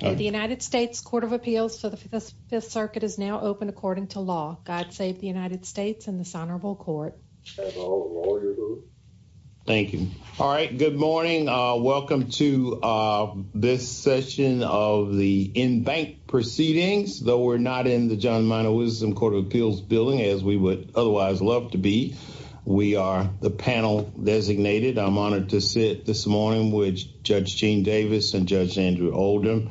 The United States Court of Appeals for the Fifth Circuit is now open according to law. God save the United States and this honorable court. Thank you. All right. Good morning. Welcome to this session of the in-bank proceedings. Though we're not in the John Minor Wisdom Court of Appeals building as we would otherwise love to be, we are the panel designated. I'm honored to sit this morning with Judge Gene Davis and Judge Andrew Oldham.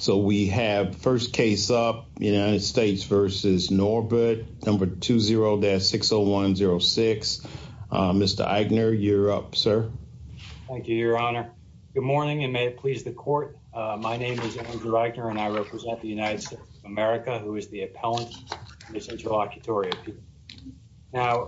So we have first case up, United States v. Norbert, number 20-60106. Mr. Eichner, you're up, sir. Thank you, your honor. Good morning and may it please the court. My name is Andrew Eichner and I represent the United States of America who is the appellant for this interlocutory appeal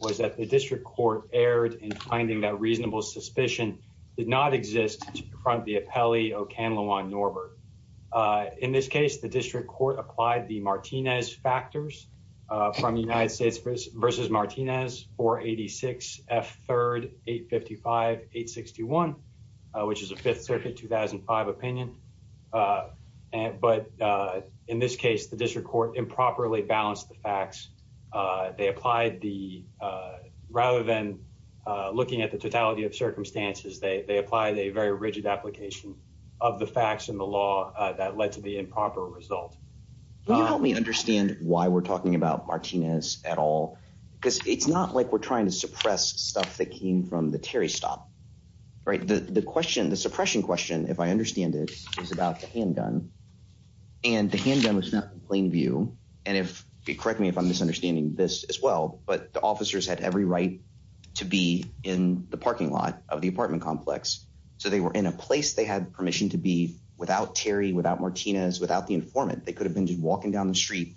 was that the district court erred in finding that reasonable suspicion did not exist to confront the appellee, Okanlawan Norbert. In this case, the district court applied the Martinez factors from United States v. Martinez 486 F. 3rd 855 861, which is a Fifth Circuit 2005 opinion. But in this case, the district court improperly balanced the facts they applied the rather than looking at the totality of circumstances, they applied a very rigid application of the facts in the law that led to the improper result. Can you help me understand why we're talking about Martinez at all? Because it's not like we're trying to suppress stuff that came from the Terry stop. Right. The question, the suppression question, if I understand it, is about the handgun and the handgun was not in plain view. And if you correct me, if I'm understanding this as well, but the officers had every right to be in the parking lot of the apartment complex. So they were in a place they had permission to be without Terry, without Martinez, without the informant, they could have been just walking down the street.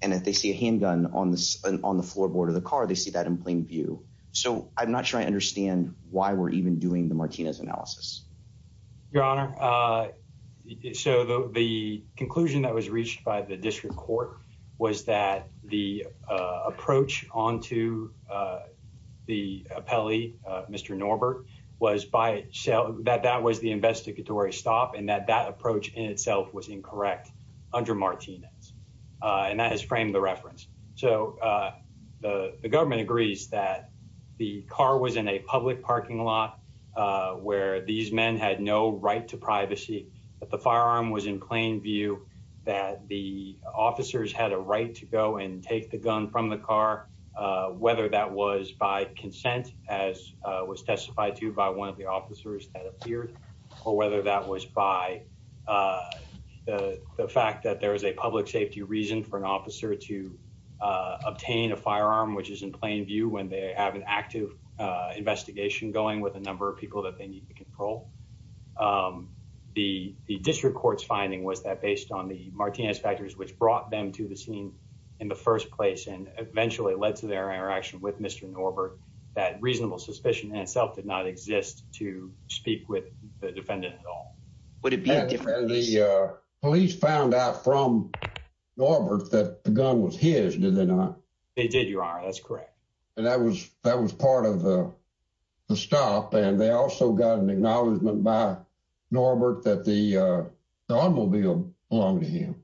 And if they see a handgun on the on the floorboard of the car, they see that in plain view. So I'm not sure I understand why we're even doing the Martinez analysis, Your Honor. So the conclusion that was reached by the approach on to the appellee, Mr. Norbert, was by itself that that was the investigatory stop and that that approach in itself was incorrect under Martinez. And that has framed the reference. So the government agrees that the car was in a public parking lot, where these men had no right to privacy, that the firearm was in plain view, that the officers had a right to go and take the gun from the car, whether that was by consent, as was testified to by one of the officers that appeared, or whether that was by the fact that there is a public safety reason for an officer to obtain a firearm, which is in plain view when they have an active investigation going with a number of people that they need to control. The district court's finding was that based on the which brought them to the scene in the first place and eventually led to their interaction with Mr. Norbert, that reasonable suspicion in itself did not exist to speak with the defendant at all. Would it be different if the police found out from Norbert that the gun was his? Did they not? They did, Your Honor. That's correct. And that was that was part of the stop. And they also got an acknowledgment by Norbert that the automobile belonged to him.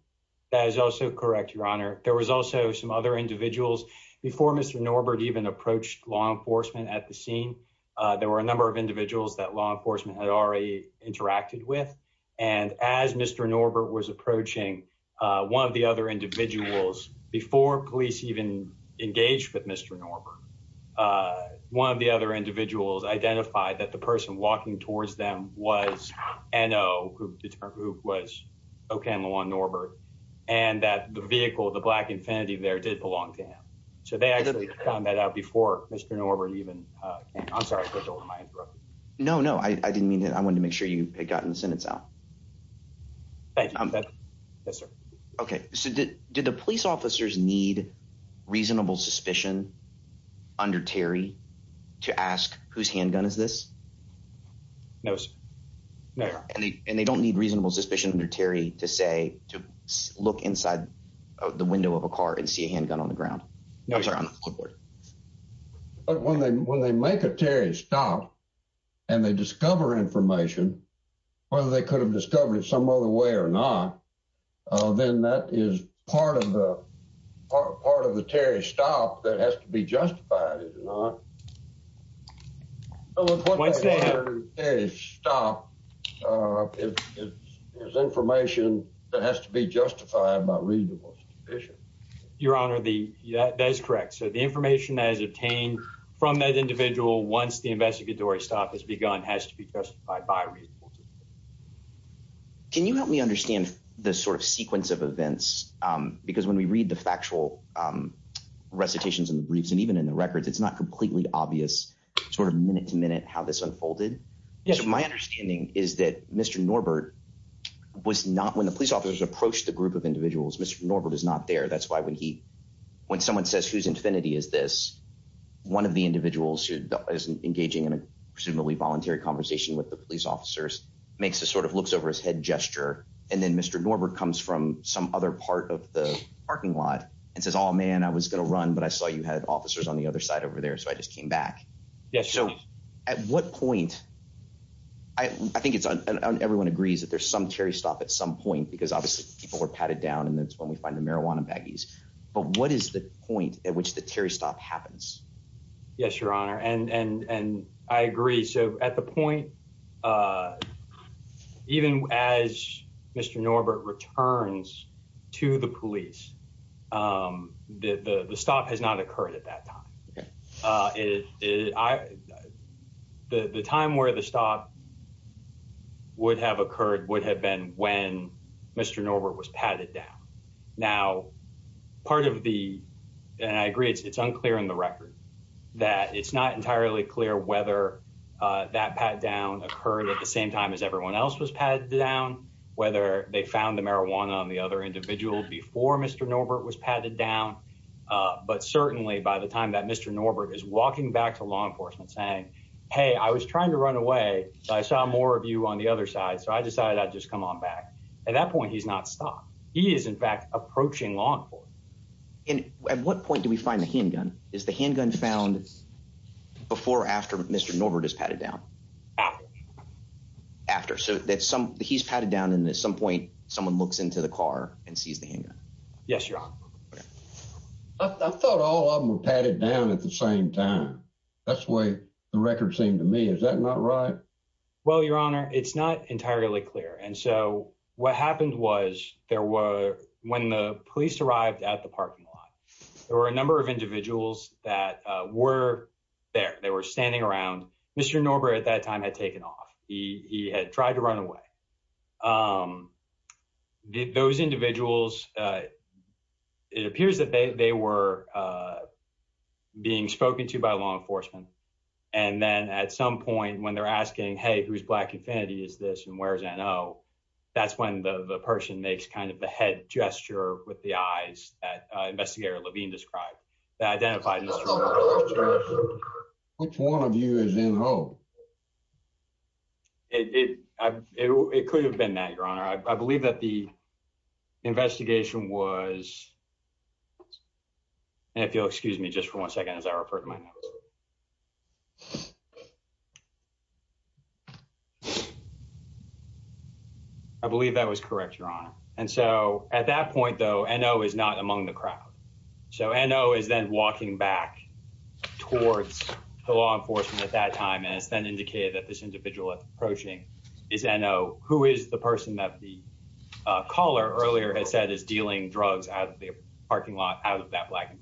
That is also correct, Your Honor. There was also some other individuals before Mr. Norbert even approached law enforcement at the scene. There were a number of individuals that law enforcement had already interacted with. And as Mr. Norbert was approaching one of the other individuals before police even engaged with Mr. Norbert, one of the other individuals identified that the person walking towards them was N.O., who was O.K. Norbert, and that the vehicle, the black infinity there, did belong to him. So they actually found that out before Mr. Norbert even came. I'm sorry if I interrupted. No, no, I didn't mean that. I want to make sure you had gotten the sentence out. Thank you. Yes, sir. OK, so did the police officers need reasonable suspicion under Terry to ask whose handgun is this? No, sir. No. And they don't need reasonable suspicion under Terry to say to look inside the window of a car and see a handgun on the ground. No, I'm sorry, on the clipboard. But when they when they make a Terry stop and they discover information, whether they could have discovered it some other way or not, then that is part of the part of the Terry stop that has to be justified, is it not? Once they have a stop, it is information that has to be justified by reasonable suspicion. Your Honor, that is correct. So the information that is obtained from that individual once the by. Can you help me understand the sort of sequence of events? Because when we read the factual recitations in the briefs and even in the records, it's not completely obvious sort of minute to minute how this unfolded. My understanding is that Mr. Norbert was not when the police officers approached the group of individuals, Mr. Norbert is not there. That's why when he when someone says whose infinity is this, one of the individuals who is engaging in a voluntary conversation with the police officers makes a sort of looks over his head gesture. And then Mr. Norbert comes from some other part of the parking lot and says, oh, man, I was going to run. But I saw you had officers on the other side over there. So I just came back. Yes. So at what point? I think it's everyone agrees that there's some Terry stop at some point because obviously people were patted down and that's when we find the marijuana baggies. But what is the point at which the Terry stop happens? Yes, your honor. And I agree. So at the point, even as Mr. Norbert returns to the police, the stop has not occurred at that time. The time where the stop would have occurred would have been when Mr. Norbert was patted down. Now, part of the and I agree it's unclear in the record that it's not entirely clear whether that pat down occurred at the same time as everyone else was patted down, whether they found the marijuana on the other individual before Mr. Norbert was patted down. But certainly by the time that Mr. Norbert is walking back to law enforcement saying, hey, I was trying to run away. I saw more of you on the other side. So I decided I'd just come on back. At that point, he's not stopped. He is, in fact, approaching law enforcement. And at what point do we find the handgun? Is the handgun found before or after Mr. Norbert is patted down after after so that some he's patted down and at some point someone looks into the car and sees the handgun? Yes, your honor. I thought all of them were patted down at the same time. That's the way the record seemed to me. Is that not right? Well, your honor, it's not entirely clear. And so what happened was there were when the police arrived at the parking lot, there were a number of individuals that were there. They were standing around. Mr. Norbert at that time had taken off. He had tried to run away. Those individuals, it appears that they were being spoken to by law enforcement. And then at some point when they're asking, hey, whose black infinity is this? And where's I know that's when the person makes kind of the head gesture with the eyes that investigator Levine described that identified. Which one of you is in home? It could have been that your honor. I believe that the investigation was. And if you'll excuse me just for one second as I refer to my notes. I believe that was correct, your honor. And so at that point, though, I know is not among the crowd. So I know is then walking back towards the law enforcement at that time. And it's then indicated that this individual approaching is I know who is the person that the caller earlier had said is dealing drugs out of the parking lot out of that black.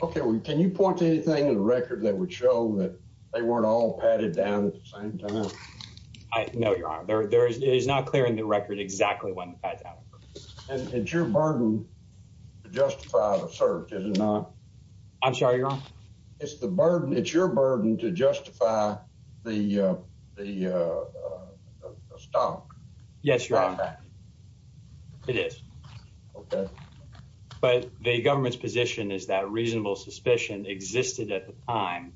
OK, can you point to anything in the record that would show that they weren't all padded down at the same time? I know your honor, there is not clear in the record exactly when the pads out. And it's your burden to justify the search, is it not? I'm sorry, your honor. It's the burden. It's your burden to justify the stock. Yes, your honor. It is. But the government's position is that a reasonable suspicion existed at the time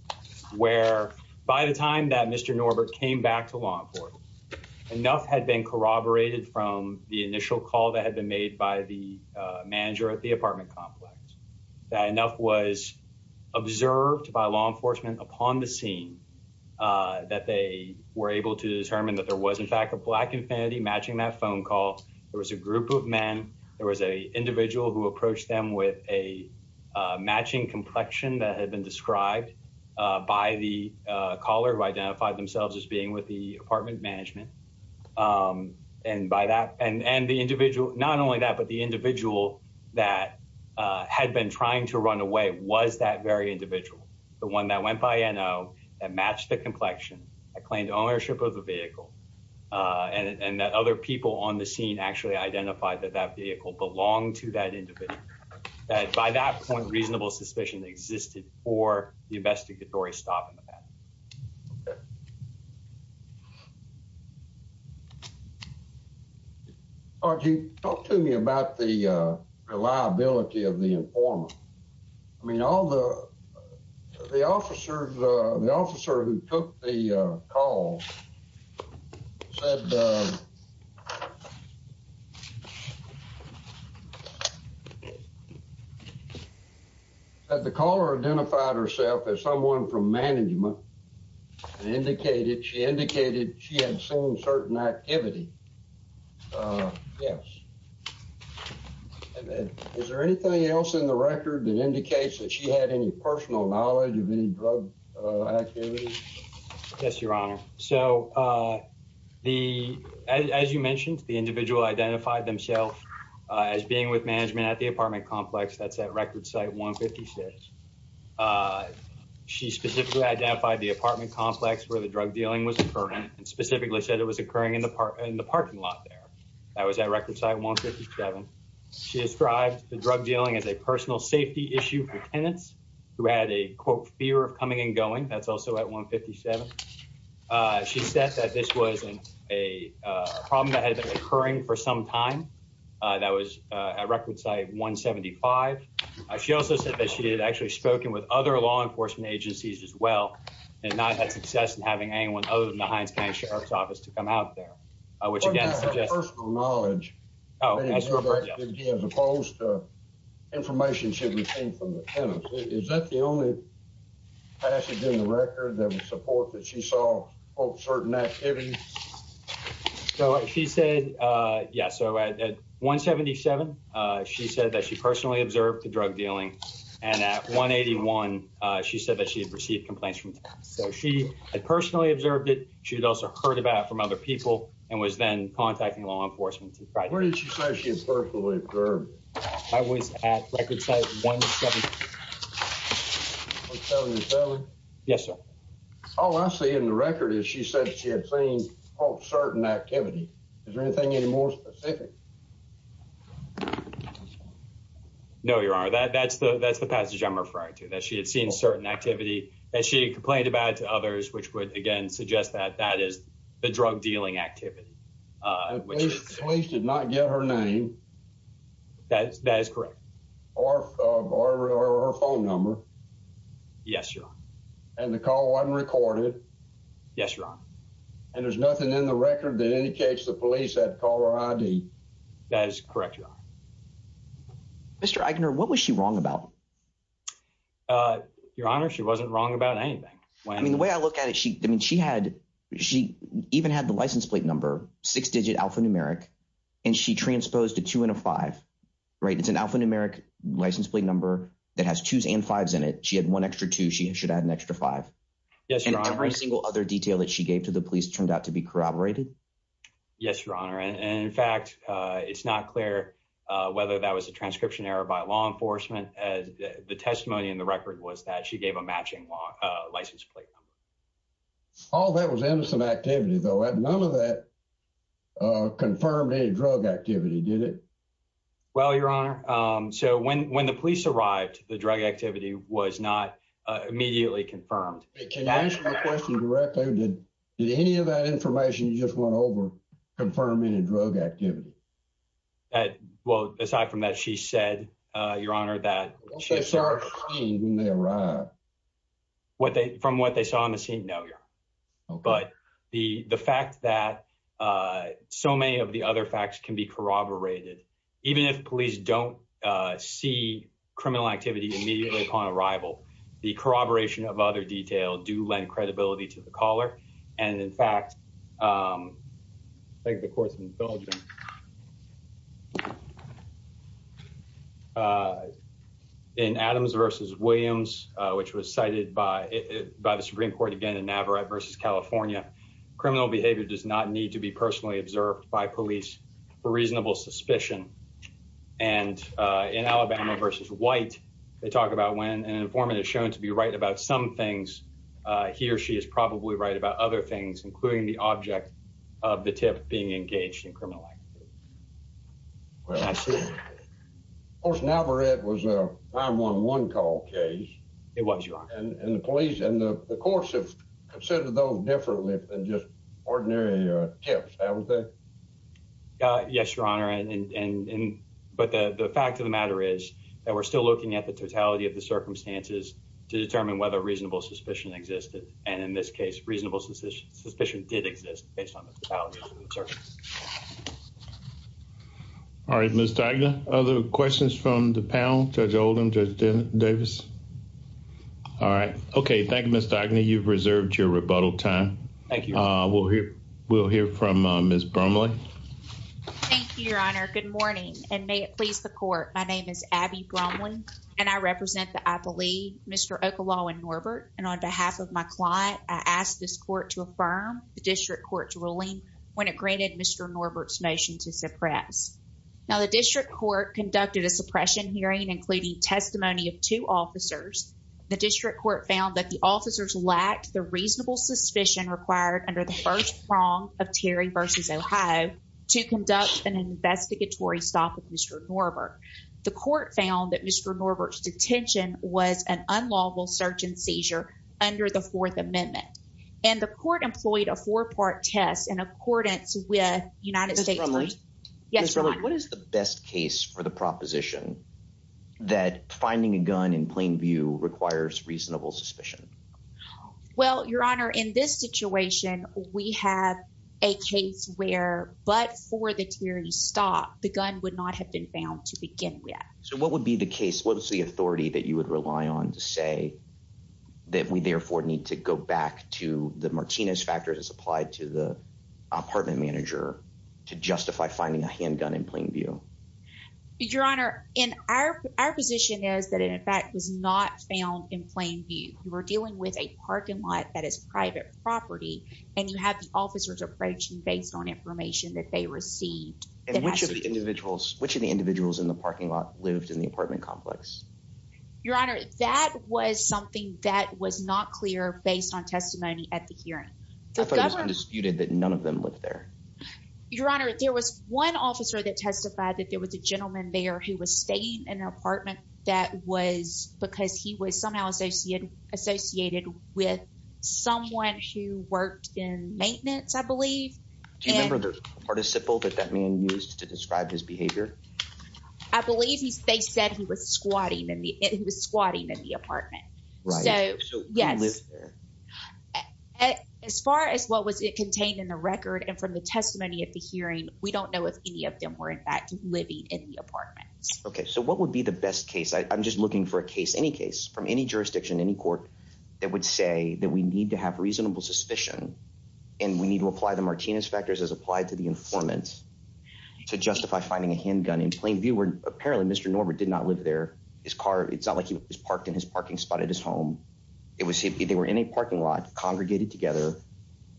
where by the time that Mr. Norbert came back to law, enough had been corroborated from the initial call that had been made by the manager at the apartment complex. That enough was observed by law enforcement upon the scene that they were able to determine that there was, in fact, a black infinity matching that phone call. There was a group of men. There was a individual who approached them with a matching complexion that had been described. By the caller who identified themselves as being with the apartment management. And by that and the individual, not only that, but the individual that had been trying to run away was that very individual, the one that went by, you know, that matched the complexion. I claimed ownership of the vehicle and that other people on the scene actually identified that that vehicle belonged to that individual. By that point, reasonable suspicion existed for the investigatory stop in the path. RG, talk to me about the reliability of the informant. I mean, all the the officers, the officer who took the call said that the caller identified herself as someone from management and indicated she indicated she had seen certain activity. Yes. And then is there anything else in the record that indicates that she had any personal knowledge of any drug activity? Yes, your honor. So the as you mentioned, the individual identified themselves as being with management at the apartment complex that's at record site 156. She specifically identified the apartment complex where the drug dealing was occurring and specifically said it was occurring in the parking lot there. That was at record site 157. She described the drug dealing as a personal safety issue for tenants who had a fear of coming and going. That's also at 157. She said that this was a problem that had been occurring for some time. That was at record site 175. She also said that she had actually spoken with other law enforcement agencies as well and not had success in having anyone other than the sheriff's office to come out there, which again is a personal knowledge as opposed to information should be seen from the tenants. Is that the only passage in the record that would support that she saw certain activities? So she said, yes. So at 177, she said that she personally observed the drug dealing. And at 181, she said that she had received complaints from She had also heard about it from other people and was then contacting law enforcement. Where did she say she had personally observed? I was at record site 177. Yes, sir. All I see in the record is she said she had seen all certain activity. Is there anything any more specific? No, your honor. That's the that's the passage I'm referring to, that she had seen certain activity that she complained about to others, which would again suggest that that is the drug dealing activity. Police did not get her name. That is correct. Or her phone number. Yes, your honor. And the call wasn't recorded. Yes, your honor. And there's nothing in the record that indicates the police had called her ID. That is correct, your honor. Mr. Agner, what was she wrong about? Your honor, she wasn't wrong about anything. I mean, the way I look at it, she I mean, she had she even had the license plate number, six digit alphanumeric, and she transposed to two and a five, right? It's an alphanumeric license plate number that has twos and fives in it. She had one extra two, she should add an extra five. Yes, your honor. Every single other detail that she gave to the police turned out to be corroborated. Yes, your honor. And in fact, it's not clear whether that was a transcription error by law enforcement, as the testimony in the record was that she gave a matching law license plate number. All that was innocent activity, though. None of that confirmed any drug activity, did it? Well, your honor. So when when the police arrived, the drug activity was not immediately confirmed. Can you answer my question directly? Did any of that information you just overconfirm any drug activity? Well, aside from that, she said, your honor, that she saw when they arrived, what they from what they saw on the scene? No. But the the fact that so many of the other facts can be corroborated, even if police don't see criminal activity immediately upon arrival, the corroboration of other detail do lend credibility to the caller. And in fact, I think the court's indulging. In Adams versus Williams, which was cited by by the Supreme Court again in Navarrete versus California, criminal behavior does not need to be personally observed by police for reasonable suspicion. And in Alabama versus white, they talk about when an informant is shown to be right about some things. He or she is probably right about other things, including the object of the tip being engaged in criminal activity. Of course, Navarrete was a 911 call case. It was, your honor. And the police and the courts have considered those differently than just ordinary tips, haven't they? Yes, your honor. And but the fact of the matter is that we're still looking at the totality of the circumstances to determine whether reasonable suspicion existed. And in this case, reasonable suspicion did exist. All right, Mr. Agnew. Other questions from the panel? Judge Oldham? Judge Davis? All right. OK. Thank you, Mr. Agnew. You've reserved your rebuttal time. Thank you. We'll hear from Ms. Bromley. Thank you, your honor. Good morning. And may it please the court. My name is Abby Bromley, and I represent the athlete, Mr. Okolaw and Norbert. And on behalf of my client, I ask this court to affirm the district court's ruling when it granted Mr. Norbert's motion to suppress. Now, the district court conducted a suppression hearing, including testimony of two officers. The district court found that the officers lacked the reasonable suspicion required under the first prong of Terry versus Ohio to conduct an investigatory stop with Mr. Norbert. The court found that Mr. Norbert's detention was an unlawful search and seizure under the Fourth Amendment. And the court employed a four-part test in accordance with United States. Ms. Bromley? Yes, your honor. What is the best case for the proposition that finding a gun in plain view requires reasonable suspicion? Well, your honor, in this situation, we have a case where but for the Terry stop, the gun would not have been found to begin with. So what would be the case? What is the authority that you would rely on to say that we therefore need to go back to the Martinez factors as applied to the apartment manager to justify finding a handgun in plain view? Your honor, in our parking lot, that is private property, and you have the officers approaching based on information that they received. And which of the individuals, which of the individuals in the parking lot lived in the apartment complex? Your honor, that was something that was not clear based on testimony at the hearing. I thought it was undisputed that none of them lived there. Your honor, there was one officer that testified that there was a gentleman there who was staying in an apartment that was because he was somehow associated with someone who worked in maintenance, I believe. Do you remember the participle that that man used to describe his behavior? I believe they said he was squatting in the apartment. So yes. As far as what was contained in the record and from the testimony at the hearing, we don't know if any of them were in fact living in the apartment. Okay. So what would be the best case? I'm just looking for a case, any case from any jurisdiction, any court that would say that we need to have reasonable suspicion and we need to apply the Martinez factors as applied to the informant to justify finding a handgun in plain view, where apparently Mr. Norbert did not live there. His car, it's not like he was parked in his parking spot at his home. It was, they were in a parking lot congregated together.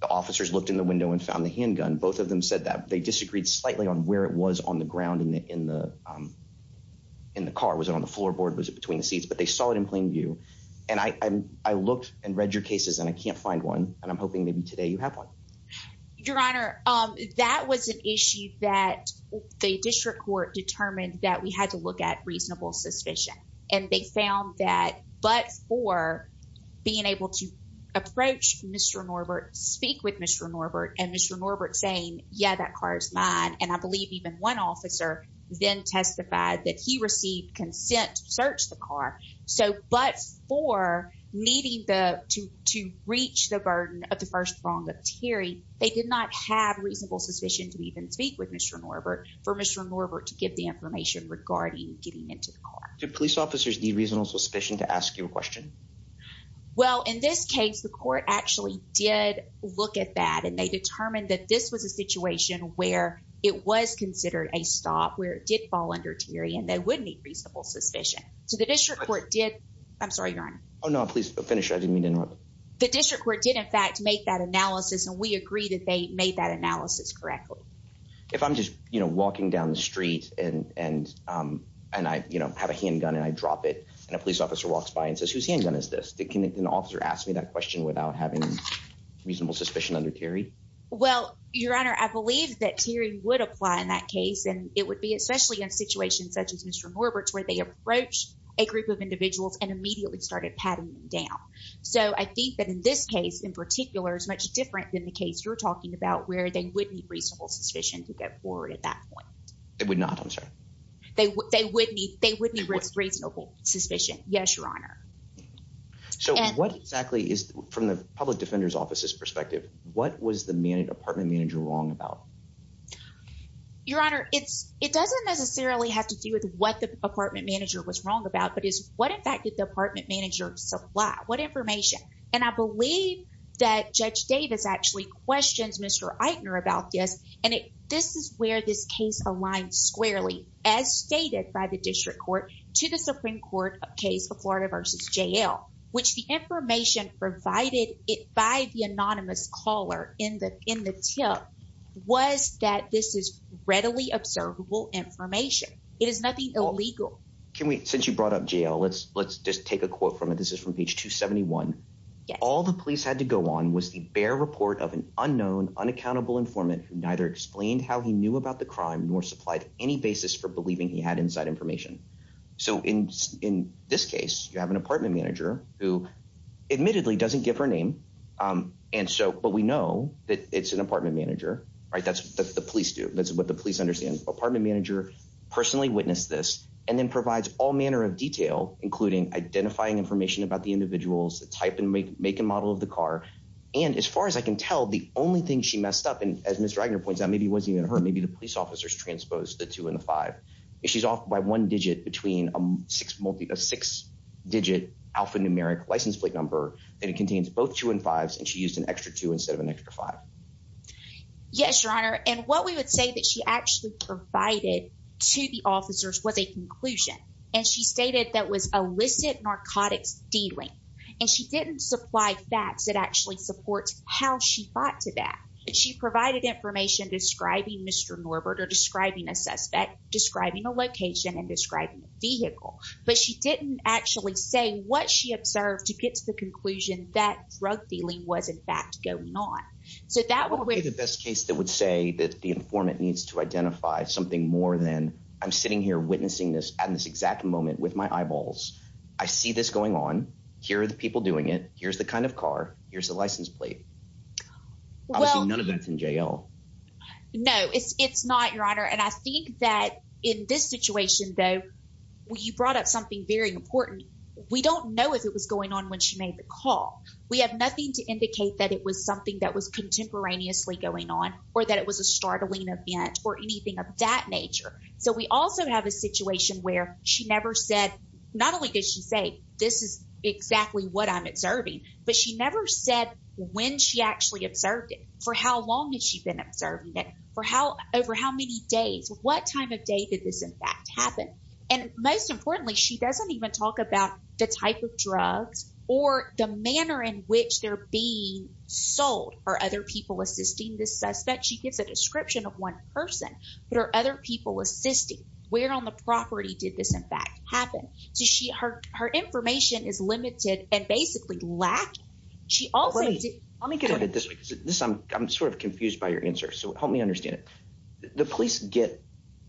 The officers looked in the window and found the handgun. Both of them said that they disagreed slightly on where it was on the ground in the car. Was it on the floorboard? Was it between the seats? But they saw it in plain view. And I looked and read your cases and I can't find one. And I'm hoping maybe today you have one. Your Honor, that was an issue that the district court determined that we had to look at reasonable suspicion. And they found that, but for being able to approach Mr. Norbert, speak with Mr. Norbert and Mr. Norbert saying, yeah, that car is mine. And I believe even one officer then testified that he received consent to search the car. So, but for needing to reach the burden of the first prong of Terry, they did not have reasonable suspicion to even speak with Mr. Norbert for Mr. Norbert to give the information regarding getting into the car. Did police officers need reasonable suspicion to ask you a question? Well, in this case, the court actually did look at that and they determined that this was a situation where it was considered a stop, where it did fall under Terry and they wouldn't need reasonable suspicion. So the district court did... I'm sorry, Your Honor. Oh no, please finish. I didn't mean to interrupt. The district court did in fact make that analysis and we agree that they made that analysis correctly. If I'm just walking down the street and I have a handgun and I drop it and a police officer asks me that question without having reasonable suspicion under Terry. Well, Your Honor, I believe that Terry would apply in that case and it would be especially in situations such as Mr. Norbert's where they approach a group of individuals and immediately started patting them down. So I think that in this case in particular is much different than the case you're talking about where they would need reasonable suspicion to go forward at that point. They would not, I'm sorry. They wouldn't need reasonable suspicion. Yes, Your Honor. So what exactly is, from the public defender's office's perspective, what was the apartment manager wrong about? Your Honor, it doesn't necessarily have to do with what the apartment manager was wrong about, but it's what in fact did the apartment manager supply? What information? And I believe that Judge Davis actually questions Mr. Eitner about this and this is where this case aligns squarely, as stated by the district court to the Supreme Court of case of Florida versus JL, which the information provided it by the anonymous caller in the tip was that this is readily observable information. It is nothing illegal. Can we, since you brought up JL, let's just take a quote from it. This is from page 271. All the police had to go on was the bare report of an unknown, unaccountable informant who neither explained how he knew about the crime nor supplied any basis for believing he had inside information. So in this case, you have an apartment manager who admittedly doesn't give her name. And so, but we know that it's an apartment manager, right? That's what the police do. That's what the police understand. Apartment manager personally witnessed this and then provides all manner of detail, including identifying information about the individuals, the type and make and model of the car. And as far as I can tell, the only thing she messed up, as Mr. Wagner points out, maybe it wasn't even her, maybe the police officers transposed the two and the five. She's off by one digit between a six digit alphanumeric license plate number that it contains both two and fives. And she used an extra two instead of an extra five. Yes, your honor. And what we would say that she actually provided to the officers was a conclusion. And she stated that was illicit narcotics dealing. And she didn't supply facts that actually supports how she fought to that. She provided information describing Mr. Norbert or describing a suspect, describing a location and describing a vehicle. But she didn't actually say what she observed to get to the conclusion that drug dealing was in fact going on. So that would be the best case that would say that the informant needs to identify something more than I'm sitting here witnessing this at this exact moment with my eyeballs. I see this going on. Here are the people doing it. Here's the kind of car. Here's the license plate. Well, none of that's in jail. No, it's not, your honor. And I think that in this situation, though, you brought up something very important. We don't know if it was going on when she made the call. We have nothing to indicate that it was something that was contemporaneously going on or that it was a startling event or anything of that nature. So we also have a this is exactly what I'm observing. But she never said when she actually observed it, for how long has she been observing it, for how over how many days, what time of day did this in fact happen? And most importantly, she doesn't even talk about the type of drugs or the manner in which they're being sold or other people assisting the suspect. She gives a description of one person, but are other people assisting? Where on the property did this in fact happen? So she her her information is limited and basically lack. She also let me get this. I'm I'm sort of confused by your answer. So help me understand it. The police get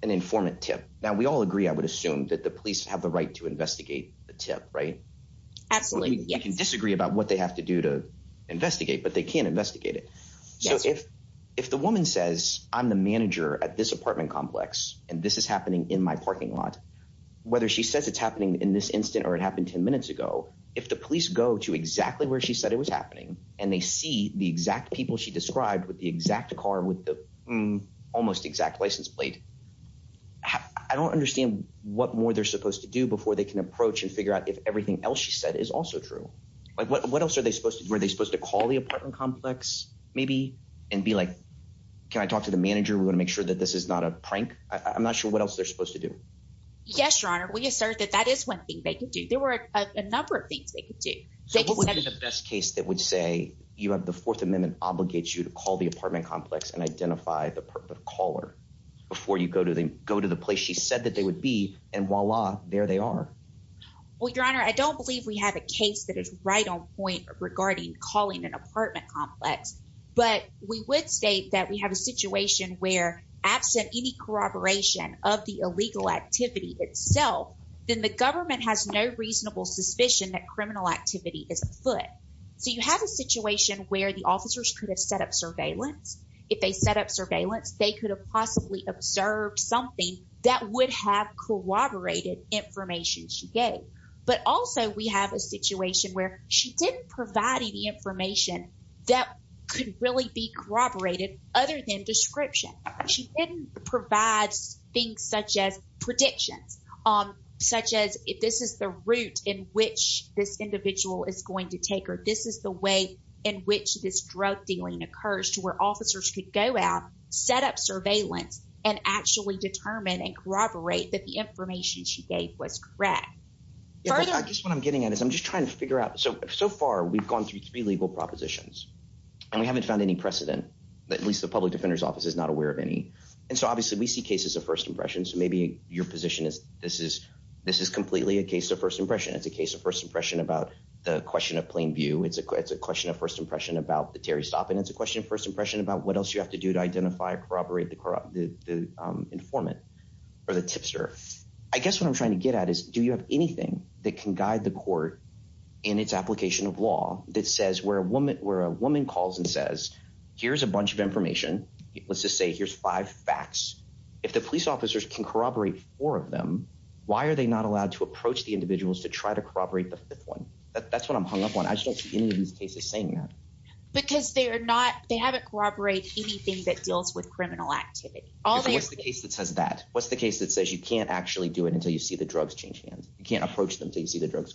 an informant tip. Now, we all agree. I would assume that the police have the right to investigate the tip, right? Absolutely. You can disagree about what they have to do to investigate, but they can investigate it. So if if the woman says, I'm the manager at this apartment complex and this is happening in my lot, whether she says it's happening in this instant or it happened 10 minutes ago, if the police go to exactly where she said it was happening and they see the exact people she described with the exact car, with the almost exact license plate, I don't understand what more they're supposed to do before they can approach and figure out if everything else she said is also true. But what else are they supposed to do? Are they supposed to call the apartment complex maybe and be like, can I talk to the manager? We want to make sure that this is not a prank. I'm not sure what else they're supposed to do. Yes, your honor. We assert that that is one thing they can do. There were a number of things they could do. So what would be the best case that would say you have the Fourth Amendment obligates you to call the apartment complex and identify the caller before you go to the go to the place she said that they would be. And voila, there they are. Well, your honor, I don't believe we have a case that is right on point regarding calling an apartment complex. But we would state that we have a situation where absent any corroboration of the illegal activity itself, then the government has no reasonable suspicion that criminal activity is afoot. So you have a situation where the officers could have set up surveillance. If they set up surveillance, they could have possibly observed something that would have corroborated information she gave. But also we have a situation where she didn't provide any information that could really be corroborated other than description. She didn't provide things such as predictions, such as if this is the route in which this individual is going to take her. This is the way in which this drug dealing occurs to where officers could go out, set up surveillance and actually determine and corroborate that the information she gave was correct. I guess what I'm getting at is I'm just trying to figure out. So so far, we've gone through three legal propositions and we haven't found any precedent that at least the public defender's office is not aware of any. And so obviously we see cases of first impressions. So maybe your position is this is this is completely a case of first impression. It's a case of first impression about the question of plain view. It's a question of first impression about the Terry stop. And it's a question of first impression about what else you have to do to identify, corroborate the informant or the tipster. I guess what I'm trying to get at is do you have anything that can guide the court in its application of law that says where a woman where a woman calls and says, here's a bunch of information? Let's just say here's five facts. If the police officers can corroborate four of them, why are they not allowed to approach the individuals to try to corroborate the fifth one? That's what I'm hung up on. I just don't see any of these cases saying that. Because they are not they haven't corroborated anything that deals with criminal activity. What's the case that says that? What's the case that says you can't actually do it until you see the drugs change hands? You can't approach them until you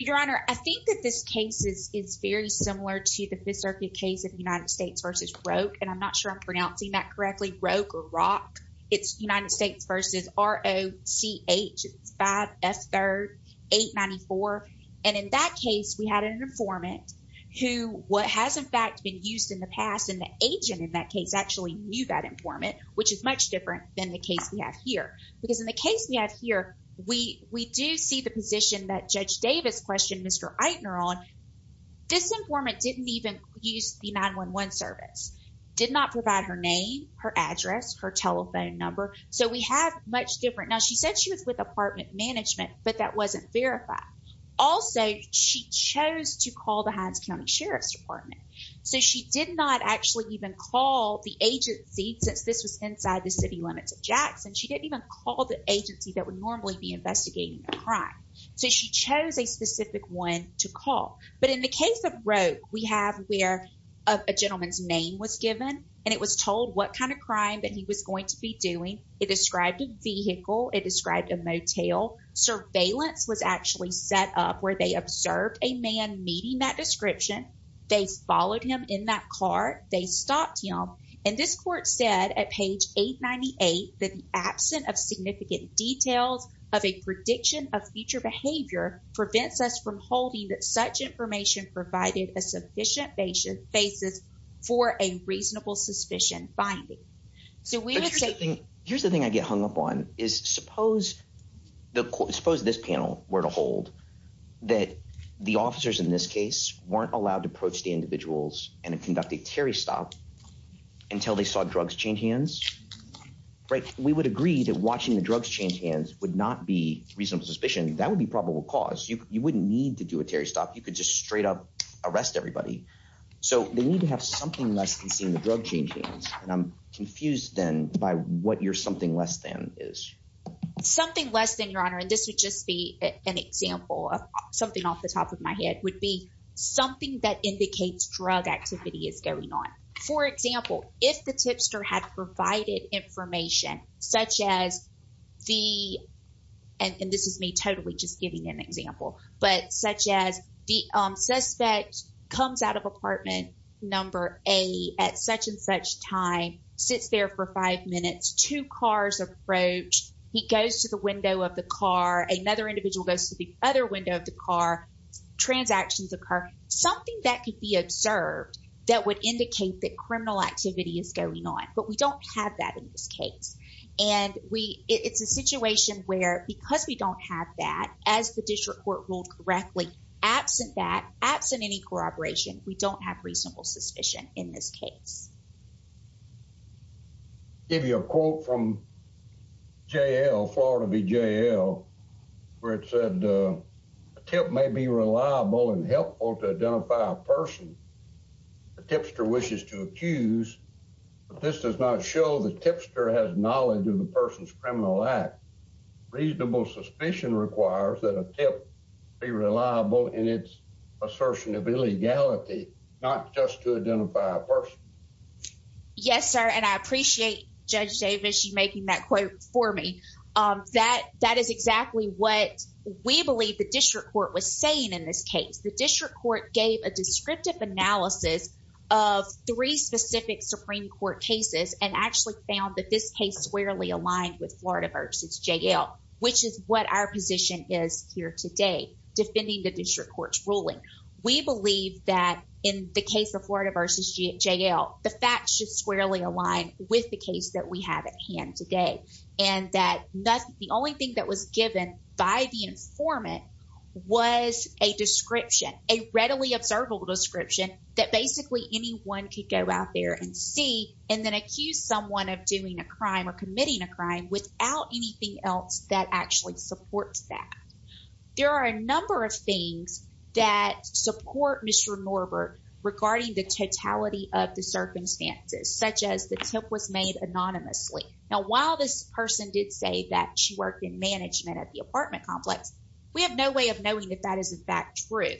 Your Honor, I think that this case is very similar to the fifth circuit case of the United States versus Roque. And I'm not sure I'm pronouncing that correctly, Roque or Rock. It's United States versus R-O-C-H-5-F-3-8-9-4. And in that case, we had an informant who what has, in fact, been used in the past and the agent in that case actually knew that informant, which is much different than the case we have here. Because in the case we have here, we do see the position that Judge Davis questioned Mr. Eitner on. This informant didn't even use the 911 service, did not provide her name, her address, her telephone number. So we have much different. Now, she said she was with apartment management, but that wasn't verified. Also, she chose to call the Hines County Sheriff's Department. So she did not actually even call the agency since this was inside the city limits of Jackson. She didn't even call the agency that would normally be a specific one to call. But in the case of Roque, we have where a gentleman's name was given, and it was told what kind of crime that he was going to be doing. It described a vehicle. It described a motel. Surveillance was actually set up where they observed a man meeting that description. They followed him in that car. They stopped him. And this court said at page 898 that the absence of significant details of a prediction of future behavior prevents us from holding that such information provided a sufficient basis for a reasonable suspicion finding. Here's the thing I get hung up on is suppose this panel were to hold that the officers in this case weren't allowed to approach the individuals and conduct a Terry stop until they saw drugs change hands. We would agree that watching the drugs change hands would not be reasonable suspicion. That would be probable cause. You wouldn't need to do a Terry stop. You could just straight up arrest everybody. So they need to have something less than seeing the drug change hands. And I'm confused then by what your something less than is. Something less than, Your Honor, and this would just be an example of something off the top of my head, would be something that indicates drug activity is going on. For example, if the tipster had provided information such as the, and this is me totally just giving an example, but such as the suspect comes out of apartment number A at such and such time, sits there for five minutes, two cars approach. He goes to the window of the car. Another individual goes to the other window of the car. Transactions occur. Something that could be observed that would indicate that criminal activity is going on, but we don't have that in this case. And we, it's a situation where because we don't have that as the district court ruled correctly, absent that absent any corroboration, we don't have reasonable suspicion in this case. I'll give you a quote from JL, Florida v. JL, where it said, a tip may be reliable and helpful to identify a person the tipster wishes to accuse, but this does not show the tipster has knowledge of the person's criminal act. Reasonable suspicion requires that a tip be reliable in its assertion of illegality, not just to identify a person. Yes, sir. And I appreciate Judge Davis, you making that quote for me. That, that is exactly what we believe the district court was saying in this case. The district court gave a descriptive analysis of three specific Supreme court cases and actually found that this case squarely aligned with Florida v. JL, which is what our position is here today, defending the district court's ruling. We believe that in the case of Florida v. JL, the facts should squarely align with the case that we have at hand today. And that the only thing that was given by the informant was a description, a readily observable description that basically anyone could go out there and see and then accuse someone of doing a crime or committing a crime without anything else that actually supports that. There are a number of things that support Mr. Norbert regarding the totality of the circumstances, such as the tip was made anonymously. Now, while this person did say that she worked in management at the apartment complex, we have no way of knowing if that is in fact true.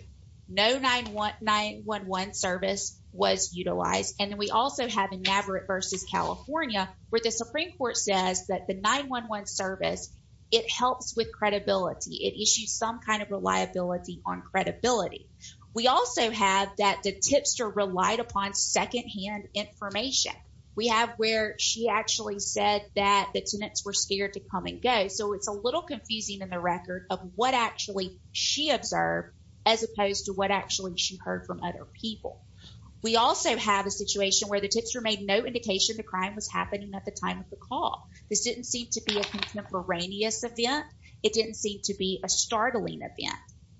No 9-1-1 service was utilized. And then we also have in Navarrete v. California, where the Supreme court says that the 9-1-1 service, it helps with credibility. It issues some kind of reliability on credibility. We also have that the tipster relied upon secondhand information. We have where she actually said that the tenants were scared to come and go. So it's a little confusing in the record of what actually she observed as opposed to what actually she heard from other people. We also have a situation where the tipster made no indication the crime was happening at the time of the call. This didn't seem to be a contemporaneous event. It didn't seem to be a startling event.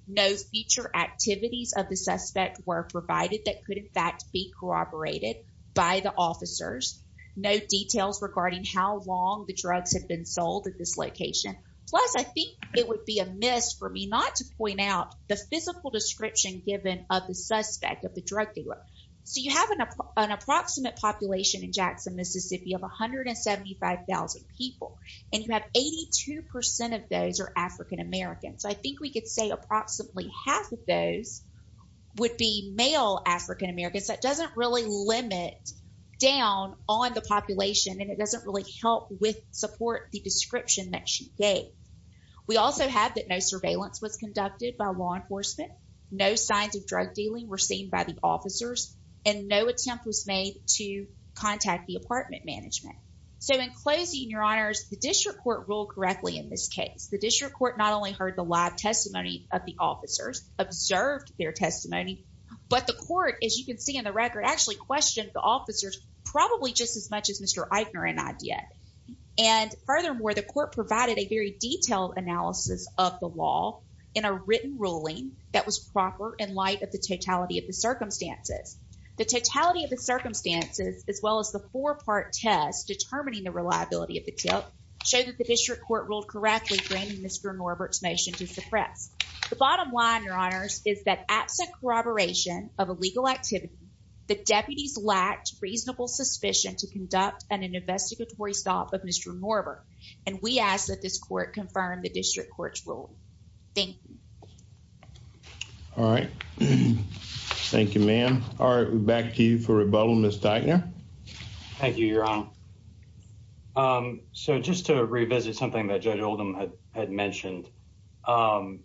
No future activities of the suspect were provided that could in fact be corroborated by the officers. No details regarding how long the drugs have been sold at this location. Plus, I think it would be a miss for me not to point out the physical description given of the suspect of So you have an approximate population in Jackson, Mississippi of 175,000 people. And you have 82% of those are African-Americans. I think we could say approximately half of those would be male African-Americans. That doesn't really limit down on the population. And it doesn't really help with support the description that she gave. We also have that no surveillance was conducted by law enforcement. No signs of drug dealing were seen by the officers. And no attempt was made to contact the apartment management. So in closing, your honors, the district court ruled correctly in this case. The district court not only heard the live testimony of the officers, observed their testimony, but the court, as you can see in the record, actually questioned the officers probably just as much as Mr. Eichner and I did. And furthermore, the court provided a very detailed analysis of the law in a written ruling that was proper in light of the totality of the circumstances. The totality of the circumstances, as well as the four-part test determining the reliability of the tip, showed that the district court ruled correctly bringing Mr. Norbert's motion to suppress. The bottom line, your honors, is that absent corroboration of illegal activity, the deputies lacked reasonable suspicion to of Mr. Norbert. And we ask that this court confirm the district court's rule. Thank you. All right. Thank you, ma'am. All right. We're back to you for rebuttal, Ms. Eichner. Thank you, your honor. So just to revisit something that Judge Oldham had mentioned, finding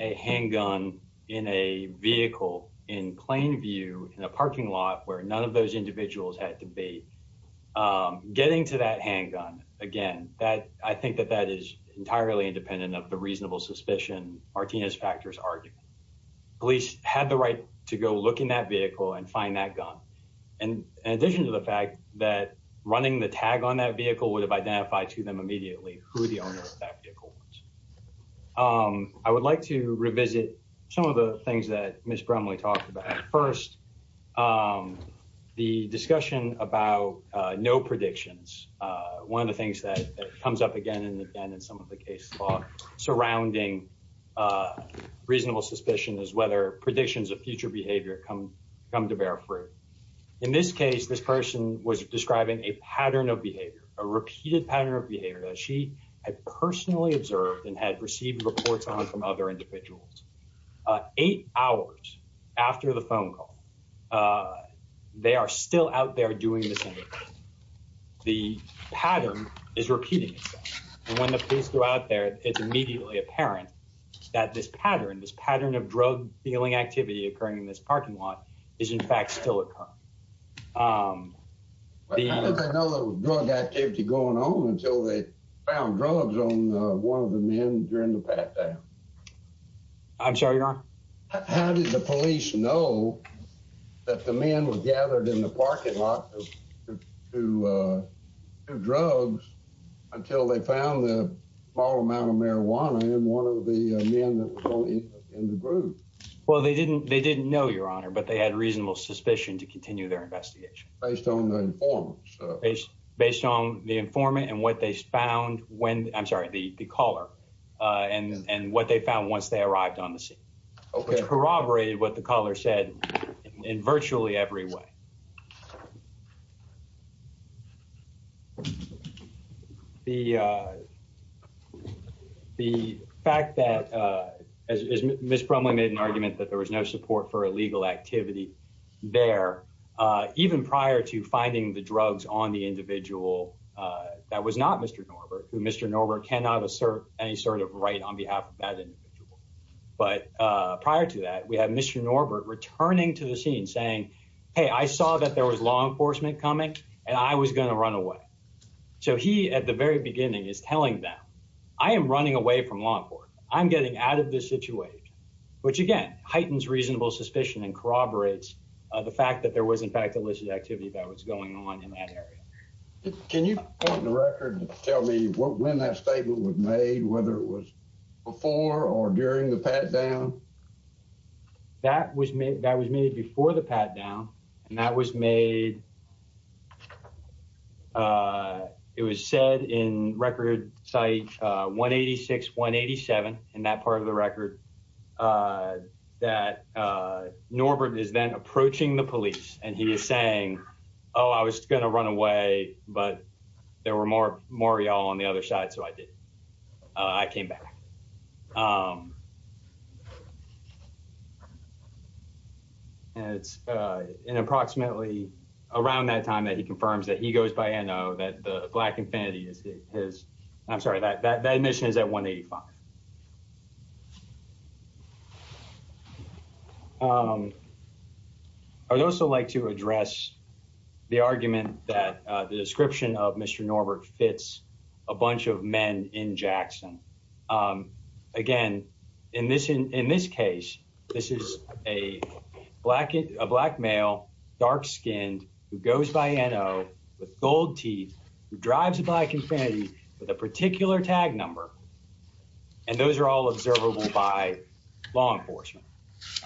a handgun in a vehicle in plain view in a parking lot where none of those individuals had been. Getting to that handgun, again, I think that that is entirely independent of the reasonable suspicion Martinez factors argued. Police had the right to go look in that vehicle and find that gun. In addition to the fact that running the tag on that vehicle would have identified to them immediately who the owner of that vehicle was. I would like to revisit some of the things that the discussion about no predictions. One of the things that comes up again and again in some of the case law surrounding reasonable suspicion is whether predictions of future behavior come come to bear fruit. In this case, this person was describing a pattern of behavior, a repeated pattern of behavior that she had personally observed and had received reports on from other uh they are still out there doing this. The pattern is repeating itself and when the police go out there it's immediately apparent that this pattern, this pattern of drug dealing activity occurring in this parking lot is in fact still occurring. How did they know there was drug activity going on until they found drugs on one of the men during the pat down? I'm sorry, your honor? How did the police know that the men were gathered in the parking lot to uh do drugs until they found the small amount of marijuana in one of the men that was in the group? Well, they didn't they didn't know, your honor, but they had reasonable suspicion to continue their investigation. Based on the informant? Based on the informant and what they found when, I'm sorry, the caller uh and and what found once they arrived on the scene. Okay. Corroborated what the caller said in virtually every way. The uh the fact that uh as Ms. Brumley made an argument that there was no support for illegal activity there uh even prior to finding the drugs on the individual uh that was not Mr. who Mr. Norbert cannot assert any sort of right on behalf of that individual. But uh prior to that we had Mr. Norbert returning to the scene saying, hey I saw that there was law enforcement coming and I was going to run away. So he at the very beginning is telling them I am running away from law enforcement. I'm getting out of this situation which again heightens reasonable suspicion and corroborates the fact that there was in fact activity that was going on in that area. Can you point the record to tell me when that statement was made whether it was before or during the pat down? That was made that was made before the pat down and that was made uh it was said in record site uh 186 187 in that part of the record uh that uh Norbert is then approaching the police and he is saying oh I was going to run away but there were more more y'all on the other side so I did. I came back. And it's uh in approximately around that time that he confirms that he goes by N.O. That the Black Infinity is his I'm sorry that that admission is at 185. Um I would also like to address the argument that uh the description of Mr. Norbert fits a bunch of men in Jackson. Um again in this in this case this is a black a black male dark-skinned who goes by N.O. with gold teeth who drives a Black Infinity with a particular tag number and those are all observable by law enforcement.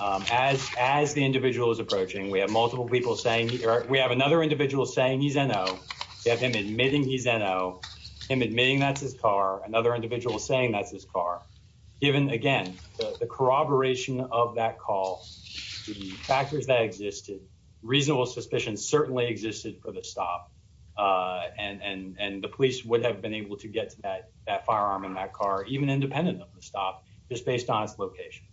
As as the individual is approaching we have multiple people saying we have another individual saying he's N.O. We have him admitting he's N.O. him admitting that's his car another individual saying that's his car given again the reasonable suspicion certainly existed for the stop uh and and and the police would have been able to get to that that firearm in that car even independent of the stop just based on its location.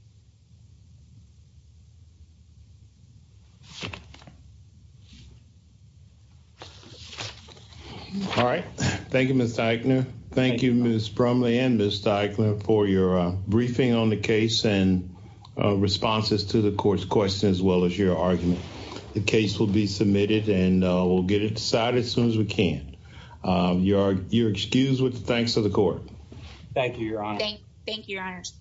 All right thank you Ms. Teichner. Thank you Ms. Brumley and Ms. Teichner for your uh briefing on the case and responses to the court's question as well as your argument. The case will be submitted and we'll get it decided as soon as we can. You are you're excused with the thanks of the court. Thank you your honor. Thank you your honors.